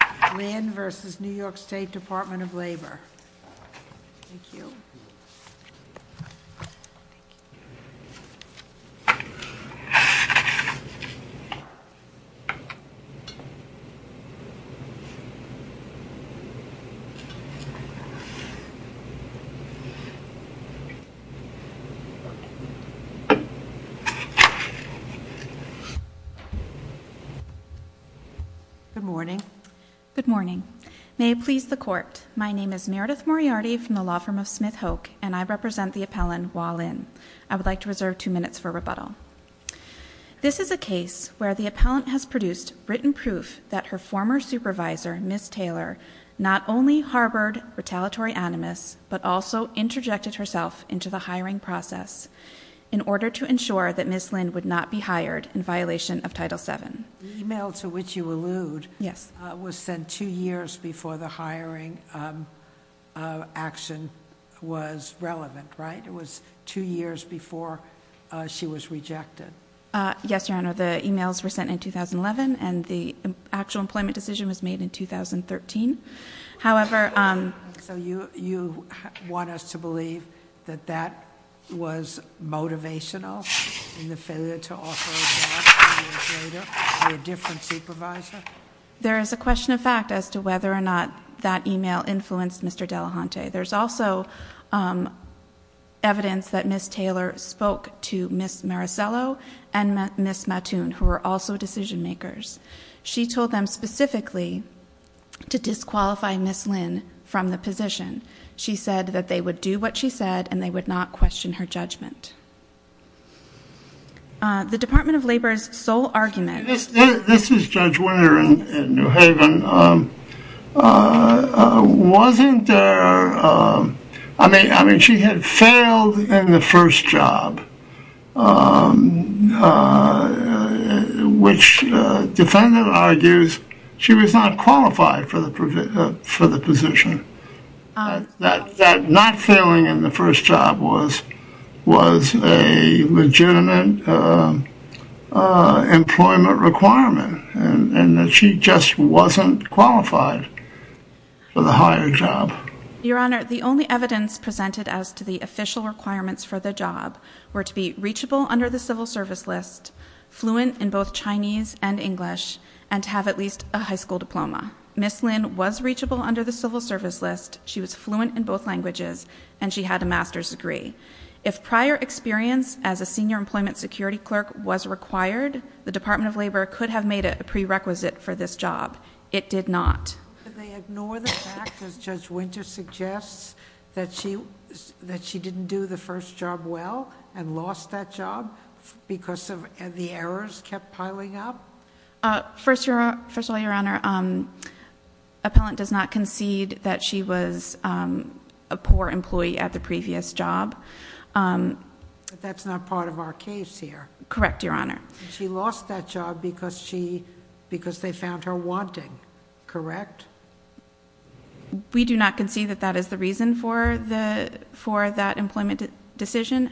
n of Labor. Thank you. Good morning. Good morning. May it please the court, my name is Meredith Moriarty from the law firm of Smith-Hoke, and I represent the appellant, Wah Lin. I would like to reserve two minutes for rebuttal. This is a case where the appellant has produced written proof that her former supervisor, Ms. Taylor, not only harbored retaliatory animus but also interjected herself into the hiring process in order to ensure that Ms. Lin would not be hired in violation of Title VII. The email to which you allude was sent two years before the hiring action was relevant, right? It was two years before she was rejected. Yes, Your Honor. The emails were sent in 2011, and the actual employment decision was made in 2013. So you want us to believe that that was motivational in the failure to offer a job two years later to a different supervisor? There is a question of fact as to whether or not that email influenced Mr. Delahunty. There's also evidence that Ms. Taylor spoke to Ms. Maricello and Ms. Mattoon, who were also decision makers. She told them specifically to disqualify Ms. Lin from the position. She said that they would do what she said and they would not question her judgment. The Department of Labor's sole argument This is Judge Winter in New Haven. She had failed in the first job, which the defendant argues she was not qualified for the position. That not failing in the first job was a legitimate employment requirement, and that she just wasn't qualified for the higher job. Your Honor, the only evidence presented as to the official requirements for the job were to be reachable under the civil service list, fluent in both Chinese and English, and to have at least a high school diploma. Ms. Lin was reachable under the civil service list. She was fluent in both languages, and she had a master's degree. If prior experience as a senior employment security clerk was required, the Department of Labor could have made it a prerequisite for this job. It did not. Could they ignore the fact, as Judge Winter suggests, that she didn't do the first job well and lost that job because the errors kept piling up? First of all, Your Honor, appellant does not concede that she was a poor employee at the previous job. But that's not part of our case here. Correct, Your Honor. She lost that job because they found her wanting, correct? We do not concede that that is the reason for that employment decision.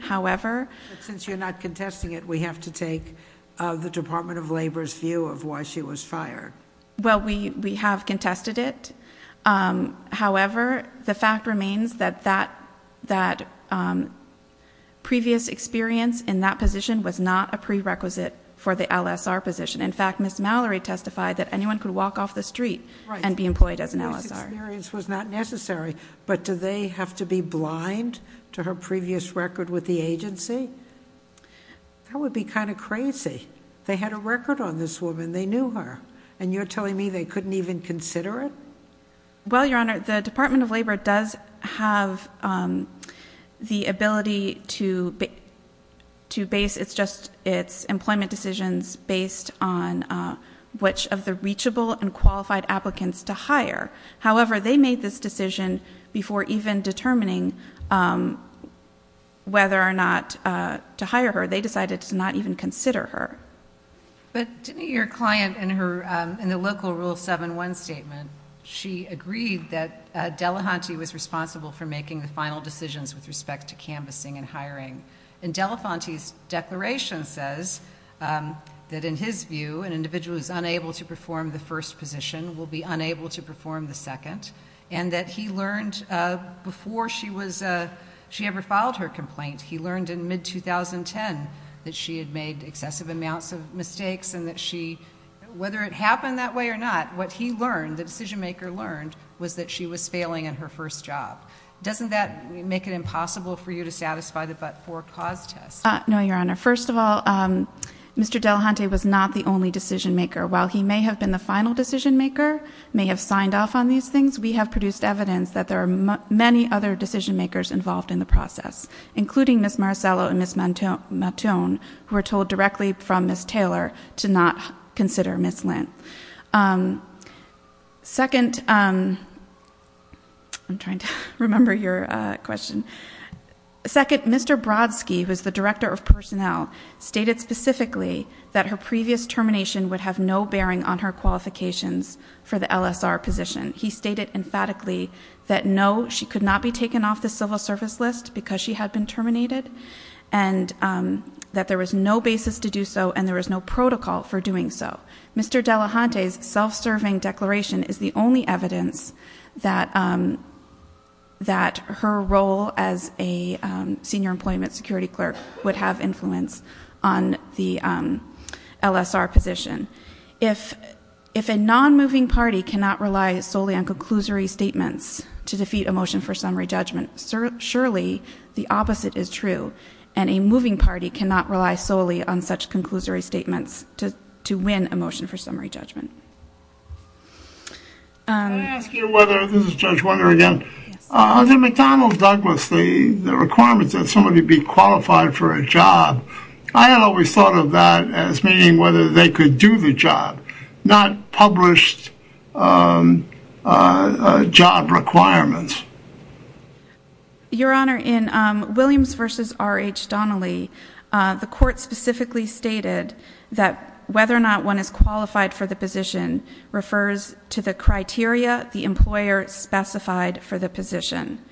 Since you're not contesting it, we have to take the Department of Labor's view of why she was fired. Well, we have contested it. However, the fact remains that that previous experience in that position was not a prerequisite for the LSR position. In fact, Ms. Mallory testified that anyone could walk off the street and be employed as an LSR. So that previous experience was not necessary. But do they have to be blind to her previous record with the agency? That would be kind of crazy. They had a record on this woman. They knew her. And you're telling me they couldn't even consider it? Well, Your Honor, the Department of Labor does have the ability to base its employment decisions based on which of the reachable and qualified applicants to hire. However, they made this decision before even determining whether or not to hire her. They decided to not even consider her. But didn't your client in the local Rule 7-1 statement, she agreed that Delahunty was responsible for making the final decisions with respect to canvassing and hiring. And Delahunty's declaration says that, in his view, an individual who is unable to perform the first position will be unable to perform the second, and that he learned before she ever filed her complaint, he learned in mid-2010, that she had made excessive amounts of mistakes and that she, whether it happened that way or not, what he learned, the decision-maker learned, was that she was failing in her first job. Doesn't that make it impossible for you to satisfy the but-for cause test? No, Your Honor. First of all, Mr. Delahunty was not the only decision-maker. While he may have been the final decision-maker, may have signed off on these things, we have produced evidence that there are many other decision-makers involved in the process, including Ms. Marcello and Ms. Matone, who were told directly from Ms. Taylor to not consider Ms. Lindt. Second, I'm trying to remember your question. Second, Mr. Brodsky, who is the Director of Personnel, stated specifically that her previous termination would have no bearing on her qualifications for the LSR position. He stated emphatically that, no, she could not be taken off the civil service list because she had been terminated, and that there was no basis to do so and there was no protocol for doing so. Mr. Delahunty's self-serving declaration is the only evidence that her role as a senior employment security clerk would have influence on the LSR position. If a non-moving party cannot rely solely on conclusory statements to defeat a motion for summary judgment, surely the opposite is true, and a moving party cannot rely solely on such conclusory statements to win a motion for summary judgment. Can I ask you whether, this is Judge Weather again, under McDonnell-Douglas, the requirements that somebody be qualified for a job, I had always thought of that as meaning whether they could do the job, not published job requirements. Your Honor, in Williams v. R.H. Donnelly, the court specifically stated that whether or not one is qualified for the position refers to the criteria the employer specified for the position.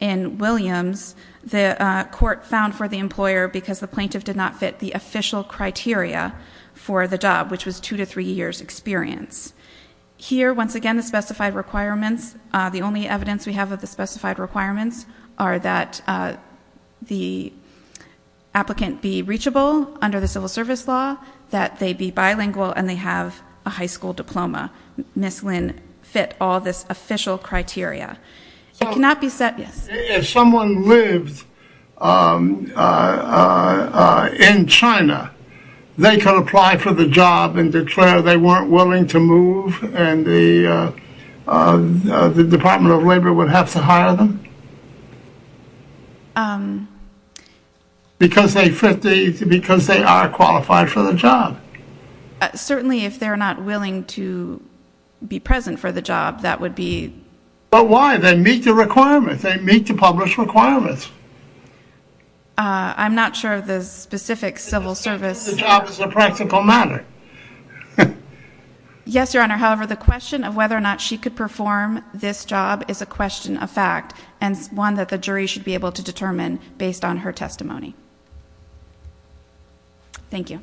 In Williams, the court found for the employer because the plaintiff did not fit the official criteria for the job, which was two to three years' experience. Here, once again, the specified requirements, the only evidence we have of the specified requirements are that the applicant be reachable under the civil service law, that they be bilingual, and they have a high school diploma. Ms. Lynn fit all this official criteria. If someone lived in China, they could apply for the job and declare they weren't willing to move, and the Department of Labor would have to hire them? Because they are qualified for the job. Certainly, if they're not willing to be present for the job, that would be... But why? They meet the requirements. They meet the published requirements. I'm not sure of the specific civil service... The job is a practical matter. Yes, Your Honor. However, the question of whether or not she could perform this job is a question of fact, and one that the jury should be able to determine based on her testimony. Thank you.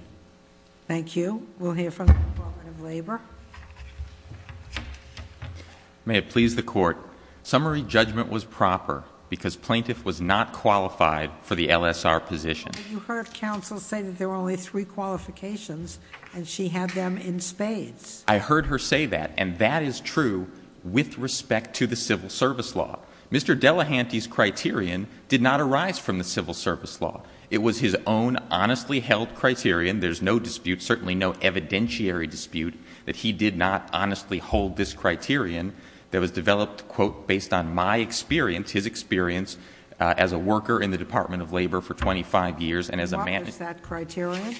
Thank you. We'll hear from the Department of Labor. May it please the Court. Summary judgment was proper because plaintiff was not qualified for the LSR position. But you heard counsel say that there were only three qualifications, and she had them in spades. I heard her say that, and that is true with respect to the civil service law. Mr. Delahanty's criterion did not arise from the civil service law. It was his own honestly held criterion. There's no dispute, certainly no evidentiary dispute, that he did not honestly hold this criterion that was developed, quote, based on my experience, his experience as a worker in the Department of Labor for 25 years. What was that criterion?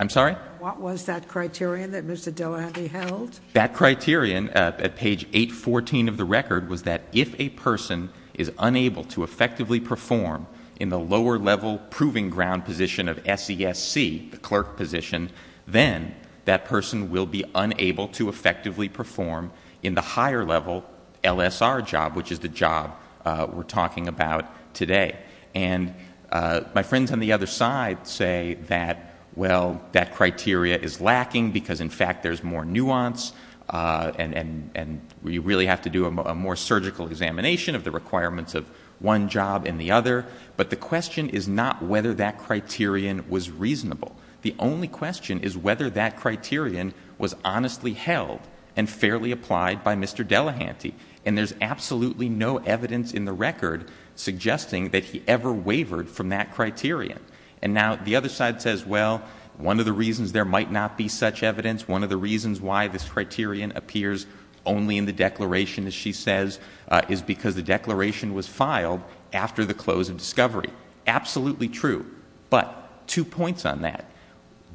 I'm sorry? What was that criterion that Mr. Delahanty held? That criterion at page 814 of the record was that if a person is unable to effectively perform in the lower level proving ground position of SESC, the clerk position, then that person will be unable to effectively perform in the higher level LSR job, which is the job we're talking about today. And my friends on the other side say that, well, that criteria is lacking because, in fact, there's more nuance and we really have to do a more surgical examination of the requirements of one job and the other. But the question is not whether that criterion was reasonable. The only question is whether that criterion was honestly held and fairly applied by Mr. Delahanty. And there's absolutely no evidence in the record suggesting that he ever wavered from that criterion. And now the other side says, well, one of the reasons there might not be such evidence, one of the reasons why this criterion appears only in the declaration, as she says, is because the declaration was filed after the close of discovery. Absolutely true. But two points on that.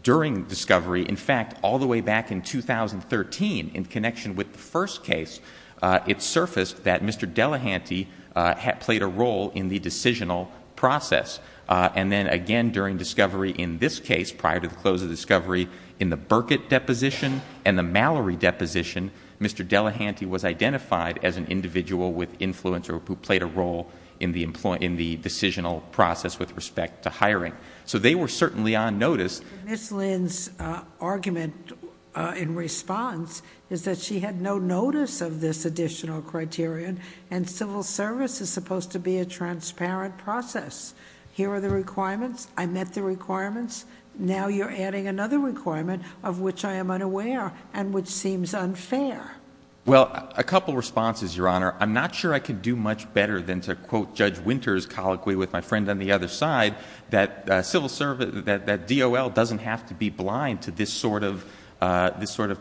During discovery, in fact, all the way back in 2013, in connection with the first case, it surfaced that Mr. Delahanty had played a role in the decisional process. And then, again, during discovery in this case, prior to the close of discovery, in the Burkitt deposition and the Mallory deposition, Mr. Delahanty was identified as an individual with influence or who played a role in the decisional process with respect to hiring. So they were certainly on notice. Ms. Lynn's argument in response is that she had no notice of this additional criterion, and civil service is supposed to be a transparent process. Here are the requirements. I met the requirements. Now you're adding another requirement of which I am unaware and which seems unfair. Well, a couple of responses, Your Honor. I'm not sure I can do much better than to quote Judge Winter's colloquy with my friend on the other side, that DOL doesn't have to be blind to this sort of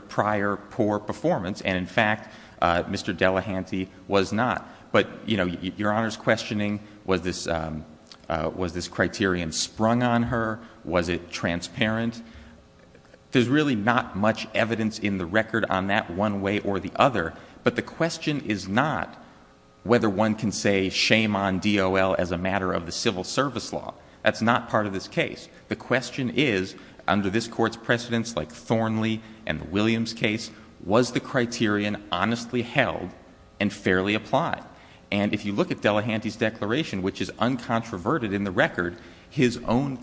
prior poor performance. And, in fact, Mr. Delahanty was not. But, you know, Your Honor's questioning was this criterion sprung on her? Was it transparent? There's really not much evidence in the record on that one way or the other. But the question is not whether one can say shame on DOL as a matter of the civil service law. That's not part of this case. The question is, under this Court's precedents like Thornley and the Williams case, was the criterion honestly held and fairly applied? And if you look at Delahanty's declaration, which is uncontroverted in the record, his own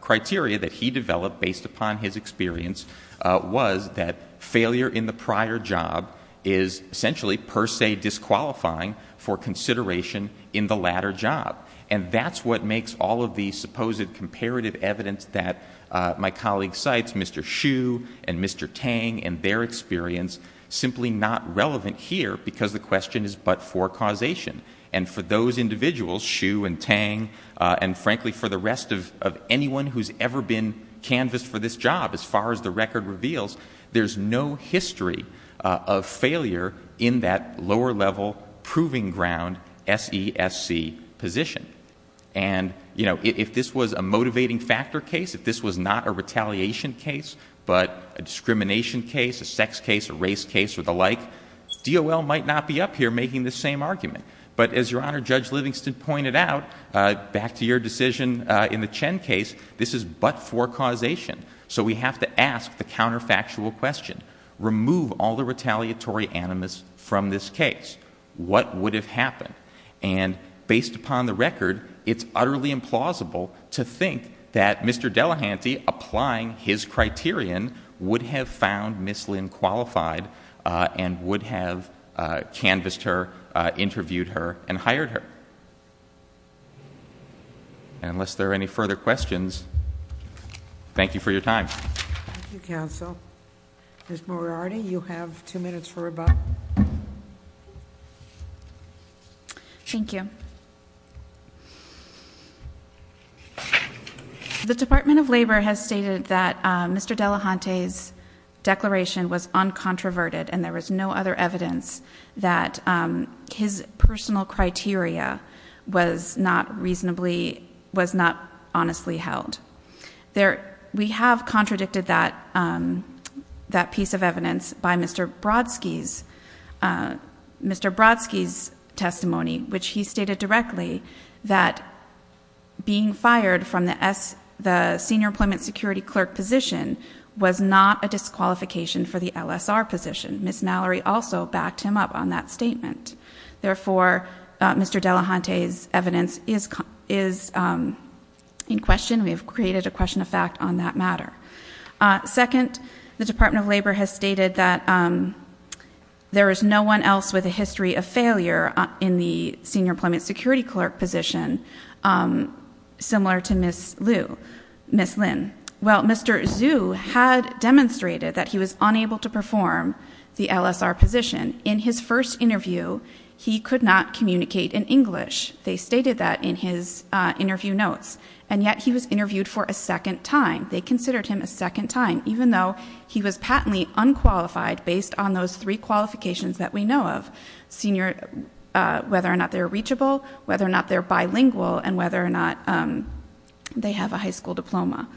criteria that he developed based upon his experience was that failure in the prior job is essentially per se disqualifying for consideration in the latter job. And that's what makes all of the supposed comparative evidence that my colleague cites, Mr. Hsu and Mr. Tang, and their experience, simply not relevant here because the question is but for causation. And for those individuals, Hsu and Tang, and, frankly, for the rest of anyone who's ever been canvassed for this job, as far as the record reveals, there's no history of failure in that lower level proving ground SESC position. And if this was a motivating factor case, if this was not a retaliation case, but a discrimination case, a sex case, a race case, or the like, DOL might not be up here making the same argument. But as Your Honor, Judge Livingston pointed out, back to your decision in the Chen case, this is but for causation. So we have to ask the counterfactual question. Remove all the retaliatory animus from this case. What would have happened? And based upon the record, it's utterly implausible to think that Mr. Delahanty, applying his criterion, would have found Ms. Lin qualified and would have canvassed her, interviewed her, and hired her. And unless there are any further questions, thank you for your time. Thank you, counsel. Ms. Moriarty, you have two minutes for rebuttal. Thank you. The Department of Labor has stated that Mr. Delahanty's declaration was uncontroverted, and there was no other evidence that his personal criteria was not honestly held. We have contradicted that piece of evidence by Mr. Brodsky's testimony, which he stated directly that being fired from the Senior Employment Security Clerk position was not a disqualification for the LSR position. Ms. Mallory also backed him up on that statement. Therefore, Mr. Delahanty's evidence is in question. We have created a question of fact on that matter. Second, the Department of Labor has stated that there is no one else with a history of failure in the Senior Employment Security Clerk position similar to Ms. Lin. Well, Mr. Zhu had demonstrated that he was unable to perform the LSR position. In his first interview, he could not communicate in English. They stated that in his interview notes, and yet he was interviewed for a second time. They considered him a second time, even though he was patently unqualified based on those three qualifications that we know of, whether or not they're reachable, whether or not they're bilingual, and whether or not they have a high school diploma.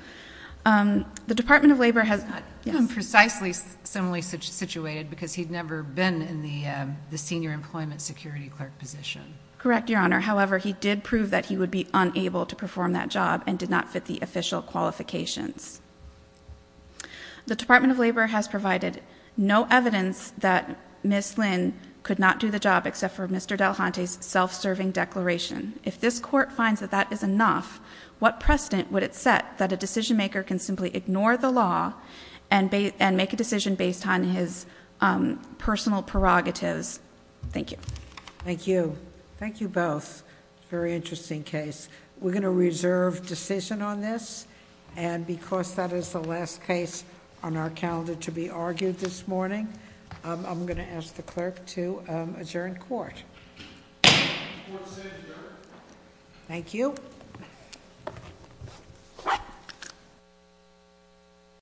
The Department of Labor has not been precisely similarly situated because he'd never been in the Senior Employment Security Clerk position. Correct, Your Honor. However, he did prove that he would be unable to perform that job and did not fit the official qualifications. The Department of Labor has provided no evidence that Ms. Lin could not do the job except for Mr. Delahanty's self-serving declaration. If this Court finds that that is enough, what precedent would it set that a decision-maker can simply ignore the law and make a decision based on his personal prerogatives? Thank you. Thank you. Thank you both. Very interesting case. We're going to reserve decision on this. Because that is the last case on our calendar to be argued this morning, I'm going to ask the clerk to adjourn court. The court is adjourned. Thank you.